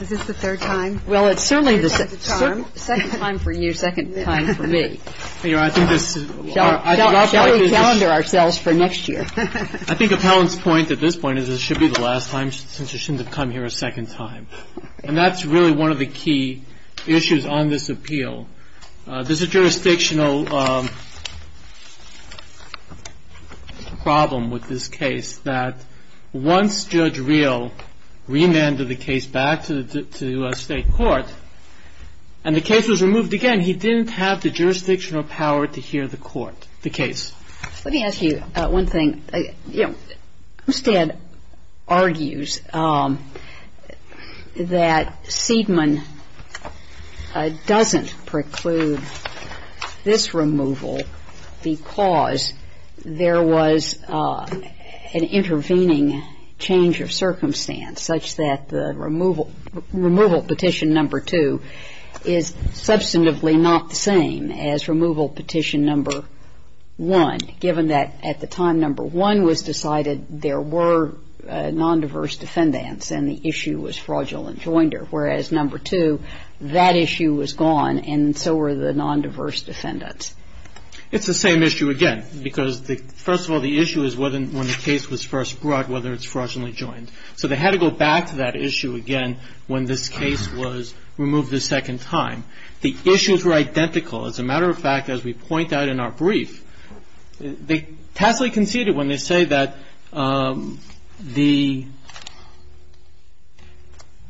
Is this the third time? Well, it's certainly the second time for you, second time for me. Shall we calendar ourselves for next year? I think Appellant's point at this point is it should be the last time since you shouldn't have come here a second time. And that's really one of the key issues on this appeal. There's a jurisdictional problem with this case that once Judge Reel remanded the case back to the U.S. State Court and the case was removed again, he didn't have the jurisdictional power to hear the court, the case. Let me ask you one thing. You know, Homestead argues that Seidman doesn't preclude this removal because there was an intervening change of circumstance such that the removal petition number two is substantively not the same as removal petition number one. Given that at the time number one was decided, there were nondiverse defendants and the issue was fraudulent joinder, whereas number two, that issue was gone and so were the nondiverse defendants. It's the same issue again. Because first of all, the issue is when the case was first brought, whether it's fraudulently joined. So they had to go back to that issue again when this case was removed the second time. The issues were identical. As a matter of fact, as we point out in our brief, they tacitly conceded when they say that the –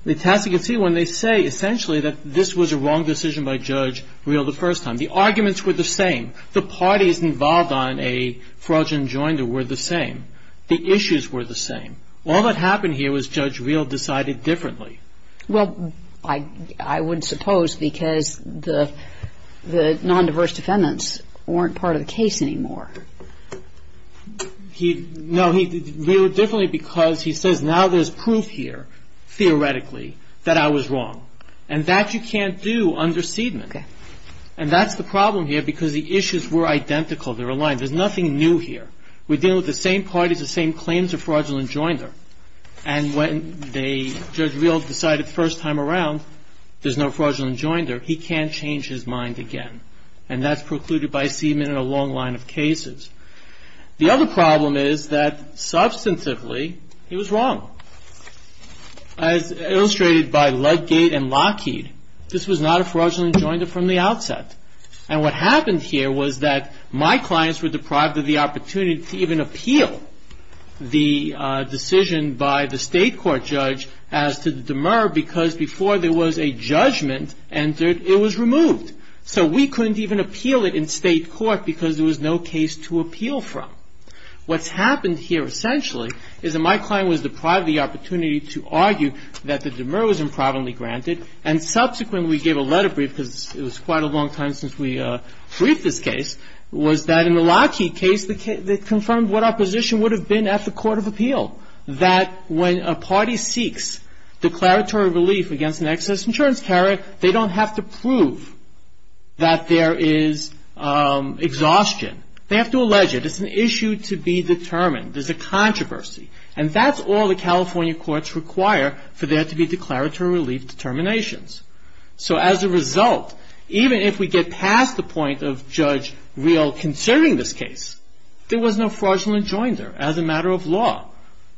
they tacitly conceded when they say essentially that this was a wrong decision by Judge Reel the first time. The arguments were the same. The parties involved on a fraudulent joinder were the same. The issues were the same. All that happened here was Judge Reel decided differently. Well, I would suppose because the nondiverse defendants weren't part of the case anymore. No, he did it differently because he says now there's proof here, theoretically, that I was wrong. And that you can't do under Seidman. Okay. And that's the problem here because the issues were identical. They're aligned. There's nothing new here. We're dealing with the same parties, the same claims of fraudulent joinder. And when Judge Reel decided first time around there's no fraudulent joinder, he can't change his mind again. And that's precluded by Seidman in a long line of cases. The other problem is that substantively he was wrong. As illustrated by Ludgate and Lockheed, this was not a fraudulent joinder from the outset. And what happened here was that my clients were deprived of the opportunity to even appeal the decision by the state court judge as to the demur because before there was a judgment entered, it was removed. So we couldn't even appeal it in state court because there was no case to appeal from. What's happened here essentially is that my client was deprived of the opportunity to argue that the demur was improperly granted. And subsequently we gave a letter brief because it was quite a long time since we briefed this case, was that in the Lockheed case they confirmed what our position would have been at the court of appeal, that when a party seeks declaratory relief against an excess insurance carrier, they don't have to prove that there is exhaustion. They have to allege it. It's an issue to be determined. There's a controversy. And that's all the California courts require for there to be declaratory relief determinations. So as a result, even if we get past the point of Judge Reel concerning this case, there was no fraudulent joinder as a matter of law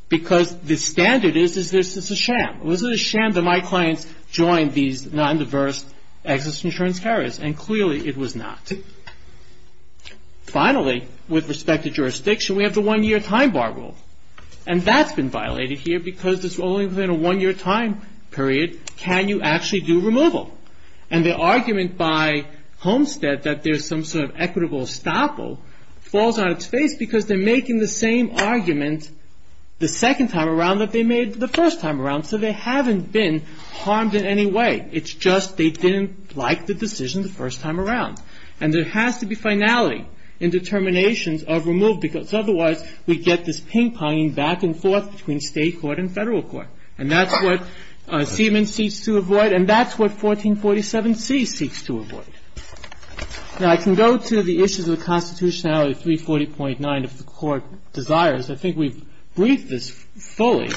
because the standard is, is this a sham? Was it a sham that my clients joined these non-diverse excess insurance carriers? And clearly it was not. Finally, with respect to jurisdiction, we have the one-year time bar rule. And that's been violated here because it's only within a one-year time period can you actually do removal. And the argument by Homestead that there's some sort of equitable estoppel falls out of space because they're making the same argument the second time around that they made the first time around, so they haven't been harmed in any way. It's just they didn't like the decision the first time around. And there has to be finality in determinations of removal because otherwise we get this ping-ponging back and forth between state court and federal court. And that's what Siemens seeks to avoid, and that's what 1447C seeks to avoid. Now, I can go to the issues of the constitutionality, 340.9, if the Court desires. I think we've briefed this fully.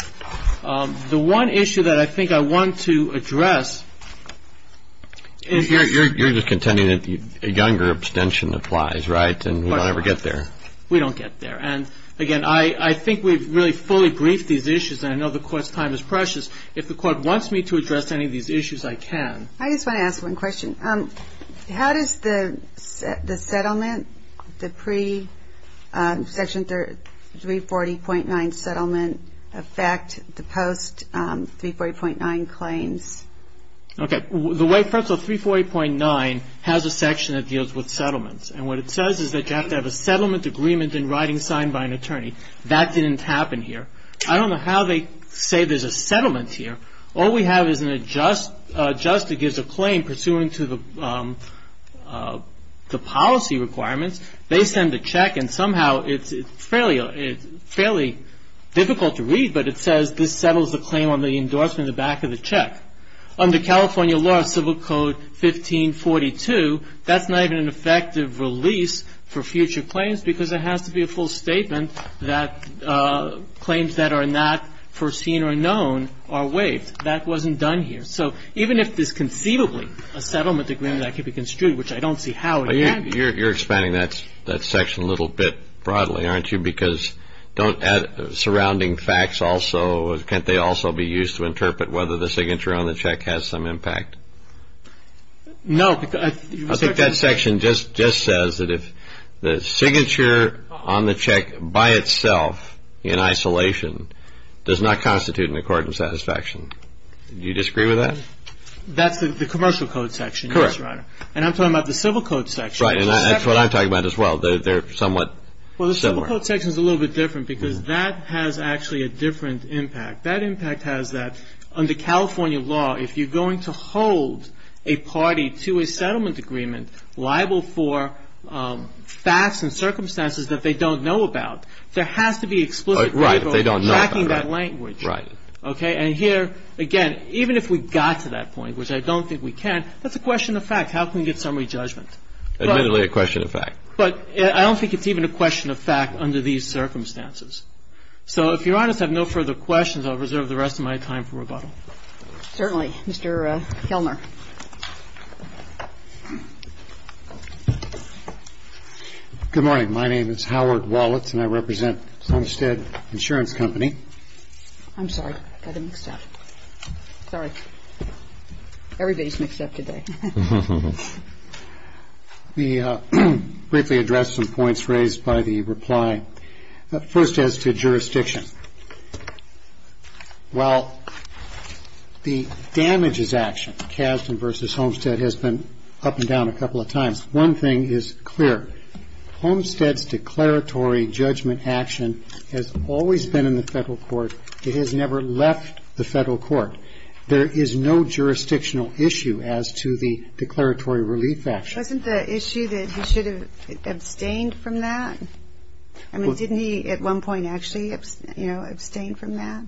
The one issue that I think I want to address is- You're just contending that a younger abstention applies, right, and we don't ever get there. We don't get there. And, again, I think we've really fully briefed these issues, and I know the Court's time is precious. If the Court wants me to address any of these issues, I can. I just want to ask one question. How does the settlement, the pre-Section 340.9 settlement affect the post-340.9 claims? Okay. First of all, 340.9 has a section that deals with settlements, and what it says is that you have to have a settlement agreement in writing signed by an attorney. That didn't happen here. I don't know how they say there's a settlement here. All we have is an adjuster gives a claim pursuant to the policy requirements. They send a check, and somehow it's fairly difficult to read, but it says this settles the claim on the endorsement on the back of the check. Under California law, Civil Code 1542, that's not even an effective release for future claims because it has to be a full statement that claims that are not foreseen or known are waived. That wasn't done here. So even if there's conceivably a settlement agreement that can be construed, which I don't see how it can be. You're expanding that section a little bit broadly, aren't you, because surrounding facts also, can't they also be used to interpret whether the signature on the check has some impact? No. I think that section just says that if the signature on the check by itself in isolation does not constitute an accord and satisfaction. Do you disagree with that? That's the Commercial Code section. Correct. And I'm talking about the Civil Code section. Right, and that's what I'm talking about as well. They're somewhat similar. Well, the Civil Code section is a little bit different because that has actually a different impact. That impact has that under California law, if you're going to hold a party to a settlement agreement liable for facts and circumstances that they don't know about, there has to be explicit legal tracking that language. Right. And here, again, even if we got to that point, which I don't think we can, that's a question of fact. How can we get summary judgment? Admittedly a question of fact. But I don't think it's even a question of fact under these circumstances. So if Your Honors have no further questions, I'll reserve the rest of my time for rebuttal. Certainly. Mr. Kellner. Good morning. My name is Howard Wallets, and I represent Somestead Insurance Company. I'm sorry. I got it mixed up. Sorry. Everybody's mixed up today. We briefly addressed some points raised by the reply. First, as to jurisdiction. While the damages action, Kasdan v. Homestead, has been up and down a couple of times, one thing is clear. Homestead's declaratory judgment action has always been in the federal court. It has never left the federal court. There is no jurisdictional issue as to the declaratory relief action. Wasn't the issue that he should have abstained from that? I mean, didn't he at one point actually, you know, abstain from that?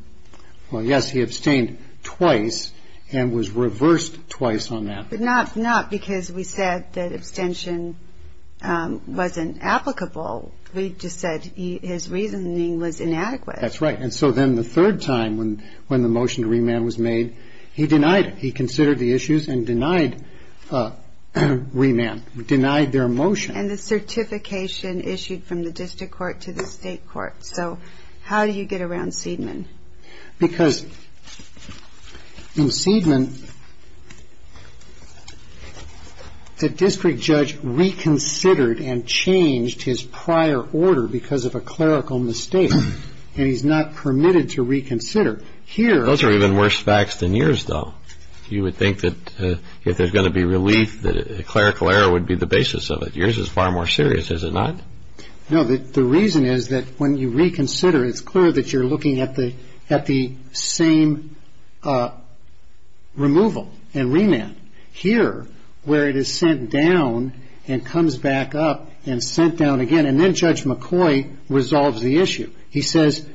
Well, yes, he abstained twice and was reversed twice on that. But not because we said that abstention wasn't applicable. We just said his reasoning was inadequate. That's right. And so then the third time when the motion to remand was made, he denied it. He considered the issues and denied remand, denied their motion. And the certification issued from the district court to the state court. So how do you get around Seidman? Because in Seidman, the district judge reconsidered and changed his prior order because of a clerical mistake. And he's not permitted to reconsider. Those are even worse facts than yours, though. You would think that if there's going to be relief, that a clerical error would be the basis of it. Yours is far more serious, is it not? No, the reason is that when you reconsider, it's clear that you're looking at the same removal and remand. Here, where it is sent down and comes back up and sent down again, and then Judge McCoy resolves the issue. He says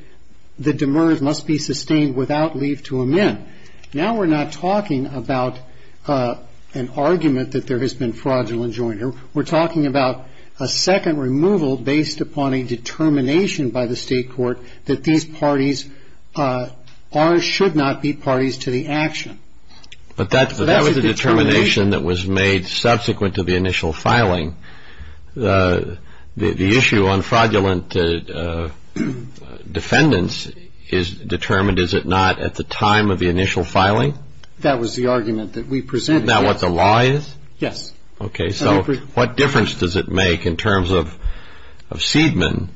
the demurred must be sustained without leave to amend. Now we're not talking about an argument that there has been fraudulent joinery. We're talking about a second removal based upon a determination by the state court that these parties are or should not be parties to the action. But that was the determination that was made subsequent to the initial filing. The issue on fraudulent defendants is determined, is it not, at the time of the initial filing? That was the argument that we presented. Is that what the law is? Yes. Okay. So what difference does it make in terms of Seidman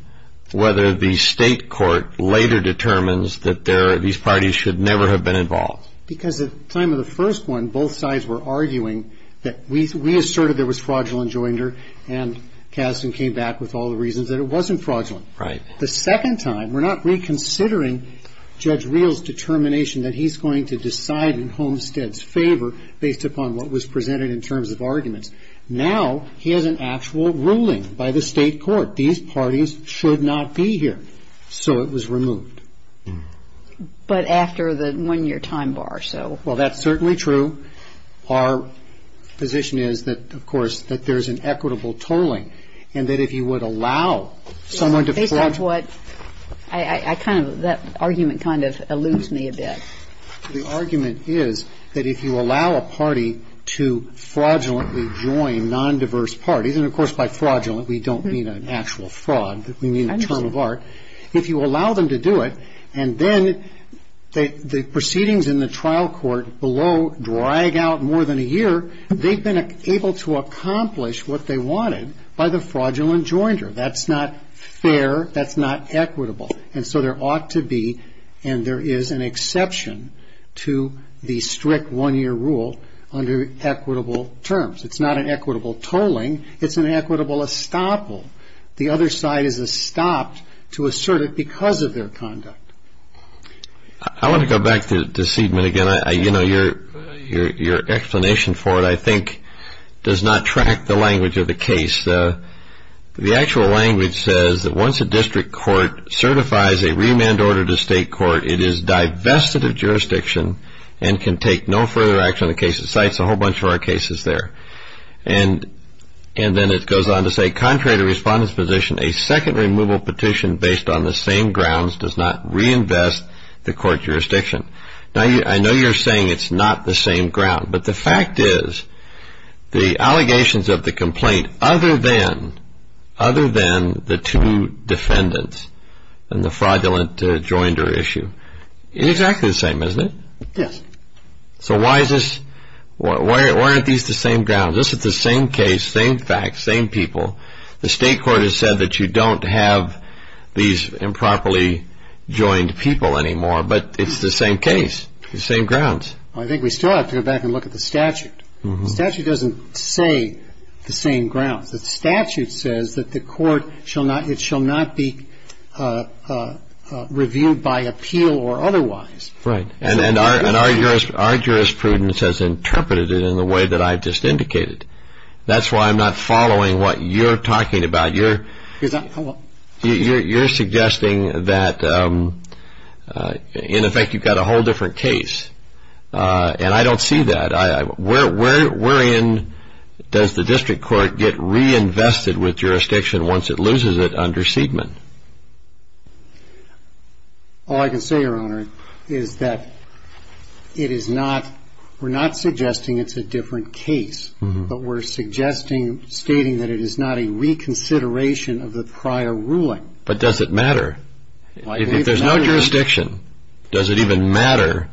whether the state court later determines that these parties should never have been involved? Because at the time of the first one, both sides were arguing that we asserted there was fraudulent joinery, and Kasdan came back with all the reasons that it wasn't fraudulent. Right. The second time, we're not reconsidering Judge Reel's determination that he's going to decide in Homestead's favor based upon what was presented in terms of arguments. Now he has an actual ruling by the state court. These parties should not be here. So it was removed. But after the one-year time bar, so. Well, that's certainly true. Our position is that, of course, that there's an equitable tolling, and that if you would allow someone to fraudulently. Based on what I kind of, that argument kind of eludes me a bit. The argument is that if you allow a party to fraudulently join non-diverse parties, and, of course, by fraudulent we don't mean an actual fraud, we mean a term of art. If you allow them to do it, and then the proceedings in the trial court below drag out more than a year, they've been able to accomplish what they wanted by the fraudulent joinery. That's not fair. That's not equitable. And so there ought to be, and there is an exception to the strict one-year rule under equitable terms. It's not an equitable tolling. It's an equitable estoppel. The other side is estopped to assert it because of their conduct. I want to go back to the deceitment again. You know, your explanation for it, I think, does not track the language of the case. The actual language says that once a district court certifies a remand order to state court, it is divested of jurisdiction and can take no further action on the case. It cites a whole bunch of our cases there. And then it goes on to say, contrary to respondent's position, a second removal petition based on the same grounds does not reinvest the court jurisdiction. Now, I know you're saying it's not the same ground, but the fact is the allegations of the complaint other than the two defendants and the fraudulent joinery issue, it's exactly the same, isn't it? Yes. So why aren't these the same grounds? This is the same case, same facts, same people. The state court has said that you don't have these improperly joined people anymore, but it's the same case, the same grounds. I think we still have to go back and look at the statute. The statute doesn't say the same grounds. The statute says that the court shall not be reviewed by appeal or otherwise. Right. And our jurisprudence has interpreted it in the way that I just indicated. That's why I'm not following what you're talking about. You're suggesting that, in effect, you've got a whole different case. And I don't see that. Wherein does the district court get reinvested with jurisdiction once it loses it under Seidman? All I can say, Your Honor, is that it is not we're not suggesting it's a different case, but we're suggesting stating that it is not a reconsideration of the prior ruling. But does it matter? If there's no jurisdiction, does it even matter?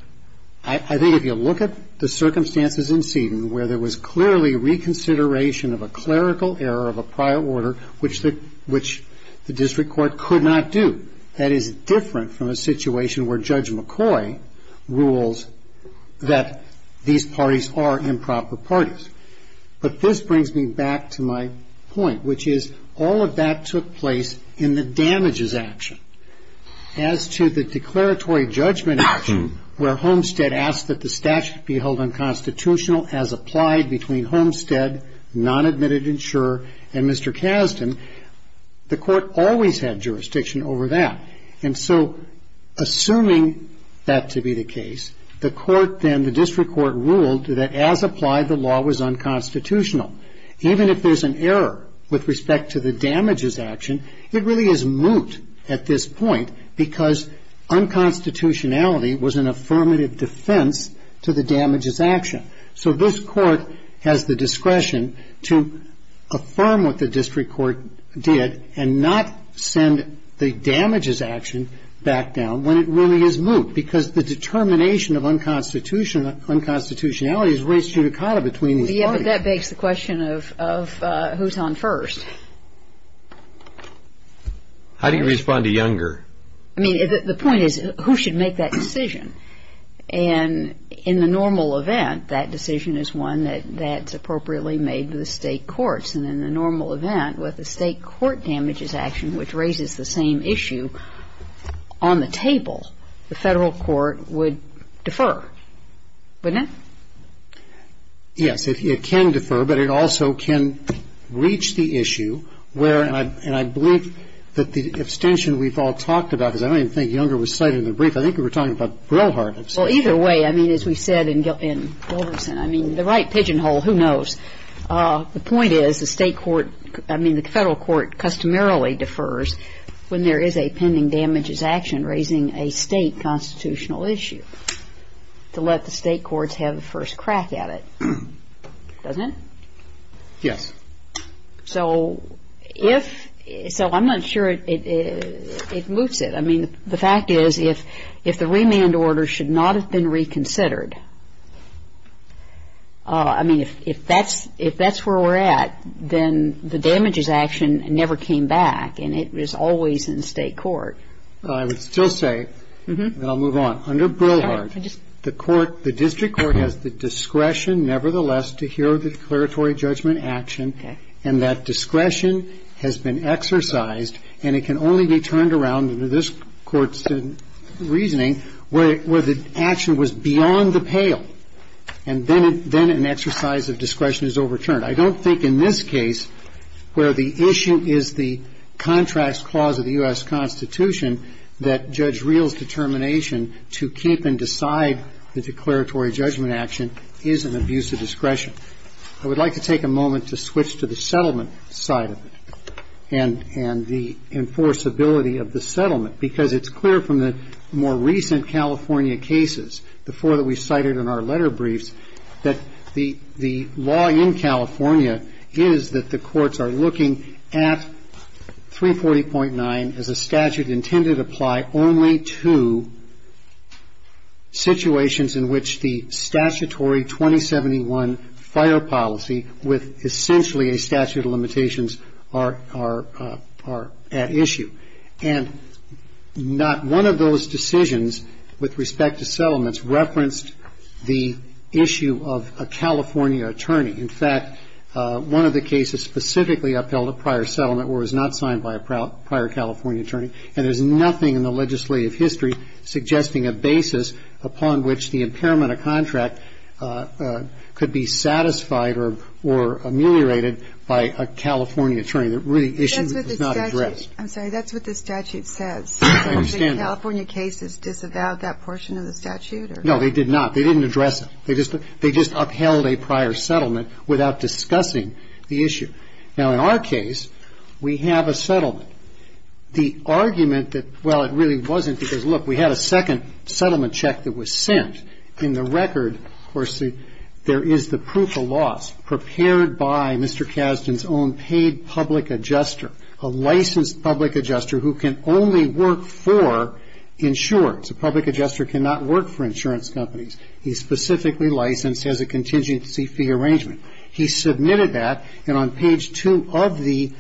I think if you look at the circumstances in Seidman where there was clearly reconsideration of a clerical error of a prior order, which the district court could not do. That is different from a situation where Judge McCoy rules that these parties are improper parties. But this brings me back to my point, which is all of that took place in the damages action. As to the declaratory judgment action where Homestead asked that the statute be held as applied between Homestead, non-admitted insurer, and Mr. Kasdan, the court always had jurisdiction over that. And so assuming that to be the case, the court then, the district court, ruled that as applied the law was unconstitutional. Even if there's an error with respect to the damages action, it really is moot at this point because unconstitutionality was an affirmative defense to the damages action. So this court has the discretion to affirm what the district court did and not send the damages action back down when it really is moot because the determination of unconstitutionality is race judicata between these parties. Yeah, but that begs the question of who's on first. How do you respond to Younger? I mean, the point is who should make that decision? And in the normal event, that decision is one that's appropriately made with the State courts. And in the normal event, with the State court damages action, which raises the same issue on the table, the Federal court would defer, wouldn't it? Yes, it can defer, but it also can reach the issue where, and I believe that the abstention we've all talked about, because I don't even think Younger was cited in the brief, I think we were talking about Brillhart abstention. Well, either way, I mean, as we said in Gilverson, I mean, the right pigeonhole, who knows. The point is the State court, I mean, the Federal court customarily defers when there is a pending damages action raising a State constitutional issue to let the State courts have the first crack at it, doesn't it? Yes. So if, so I'm not sure it moots it. I mean, the fact is if the remand order should not have been reconsidered, I mean, if that's where we're at, then the damages action never came back, and it was always in the State court. Well, I would still say, and I'll move on, under Brillhart, the court, the district court has the discretion nevertheless to hear the declaratory judgment action, and that discretion has been exercised, and it can only be turned around under this Court's reasoning, where the action was beyond the pale, and then an exercise of discretion is overturned. I don't think in this case, where the issue is the contract clause of the U.S. Constitution, that Judge Reel's determination to keep and decide the declaratory judgment action is an abuse of discretion. I would like to take a moment to switch to the settlement side of it, and the enforceability of the settlement, because it's clear from the more recent California cases, the four that we cited in our letter briefs, that the law in California is that the courts are looking at 340.9 as a statute intended to apply only to situations in which the statutory 2071 fire policy with essentially a statute of limitations are at issue. And not one of those decisions, with respect to settlements, referenced the issue of a California attorney. In fact, one of the cases specifically upheld a prior settlement or was not signed by a prior California attorney, and there's nothing in the legislative history suggesting a basis upon which the impairment of contract could be satisfied or ameliorated by a California attorney. The issue was not addressed. I'm sorry. That's what the statute says. I understand that. Did the California cases disavow that portion of the statute? No, they did not. They didn't address it. They just upheld a prior settlement without discussing the issue. Now, in our case, we have a settlement. The argument that, well, it really wasn't because, look, we had a second settlement check that was sent. In the record, of course, there is the proof of loss prepared by Mr. Kasdan's own paid public adjuster, a licensed public adjuster who can only work for insurers. A public adjuster cannot work for insurance companies. He's specifically licensed as a contingency fee arrangement. He submitted that, and on page 2 of the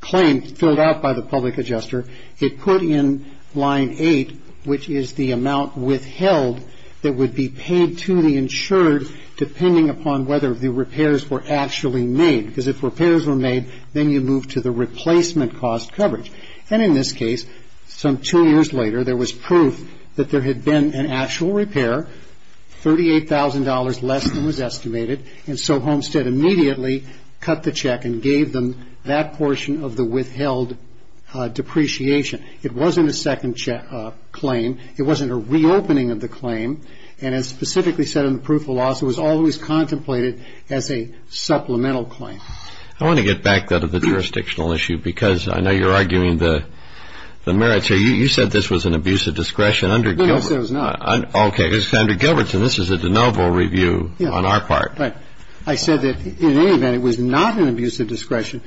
claim filled out by the public adjuster, it put in line 8, which is the amount withheld that would be paid to the insured depending upon whether the repairs were actually made. Because if repairs were made, then you move to the replacement cost coverage. And in this case, some two years later, there was proof that there had been an actual repair, $38,000 less than was estimated, and so Homestead immediately cut the check and gave them that portion of the withheld depreciation. It wasn't a second claim. It wasn't a reopening of the claim. And as specifically said in the proof of loss, it was always contemplated as a supplemental claim. I want to get back to the jurisdictional issue because I know you're arguing the merits here. You said this was an abuse of discretion under Gilbert. No, no, I said it was not. Okay. This is under Gilbertson. This is a de novo review on our part. Right. I said that in any event, it was not an abuse of discretion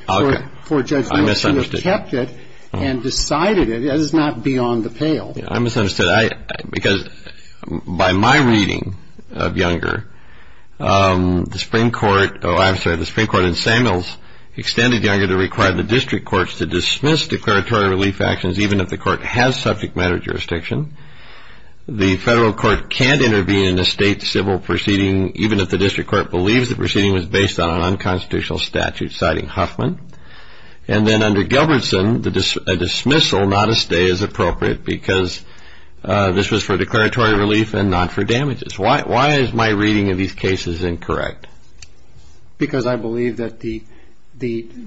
for Judge Miller to have kept it and decided it. That is not beyond the pale. I misunderstood. Because by my reading of Younger, the Supreme Court in Samuels extended Younger to require the district courts to dismiss declaratory relief actions even if the court has subject matter jurisdiction. The federal court can't intervene in a state civil proceeding even if the district court believes the proceeding was based on an unconstitutional statute, citing Huffman. And then under Gilbertson, a dismissal, not a stay, is appropriate because this was for declaratory relief and not for damages. Why is my reading of these cases incorrect? Because I believe that the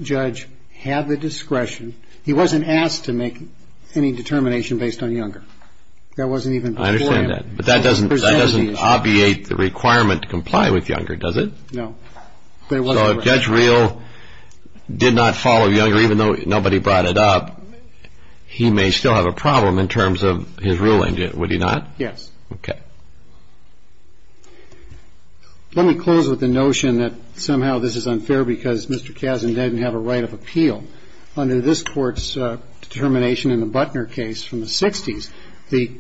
judge had the discretion. He wasn't asked to make any determination based on Younger. That wasn't even before him. I understand that. But that doesn't obviate the requirement to comply with Younger, does it? No. So if Judge Reel did not follow Younger, even though nobody brought it up, he may still have a problem in terms of his ruling, would he not? Yes. Okay. Let me close with the notion that somehow this is unfair because Mr. Kazin didn't have a right of appeal. Under this Court's determination in the Butner case from the 60s, the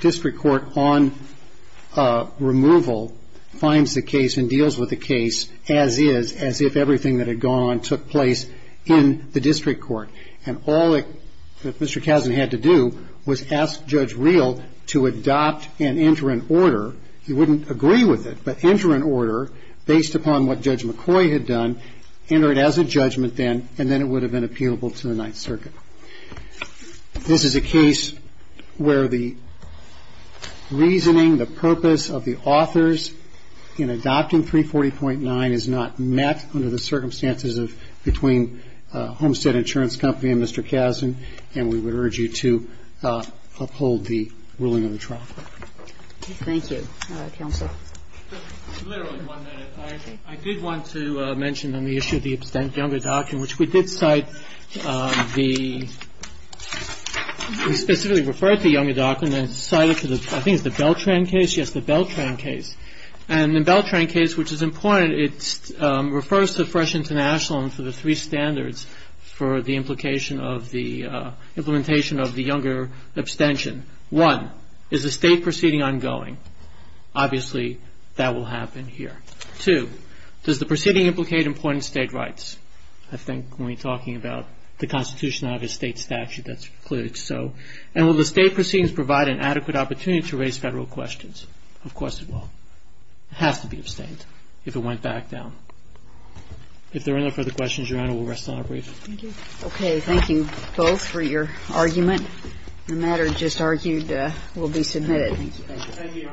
district court on removal finds the case and deals with the case as is, as if everything that had gone on took place in the district court. And all that Mr. Kazin had to do was ask Judge Reel to adopt and enter an order. He wouldn't agree with it, but enter an order based upon what Judge McCoy had done, enter it as a judgment then, and then it would have been appealable to the Ninth Circuit. This is a case where the reasoning, the purpose of the authors in adopting 340.9 is not met under the circumstances between Homestead Insurance Company and Mr. Kazin, and we would urge you to uphold the ruling of the trial. Thank you. All right, counsel. Just literally one minute. I did want to mention on the issue of the younger doctrine, which we did cite the, we specifically referred to the younger doctrine, and cited to the, I think it's the Beltran case. Yes, the Beltran case. And the Beltran case, which is important, it refers to fresh internationalism for the three standards for the implication of the implementation of the younger abstention. One, is the state proceeding ongoing? Obviously, that will happen here. Two, does the proceeding implicate important state rights? I think when you're talking about the constitution of a state statute, that's clearly so. And will the state proceedings provide an adequate opportunity to raise Federal questions? Of course it will. It has to be abstained if it went back down. If there are no further questions, Your Honor, we'll rest on a brief. Thank you. Okay, thank you both for your argument. The matter just argued will be submitted. Thank you.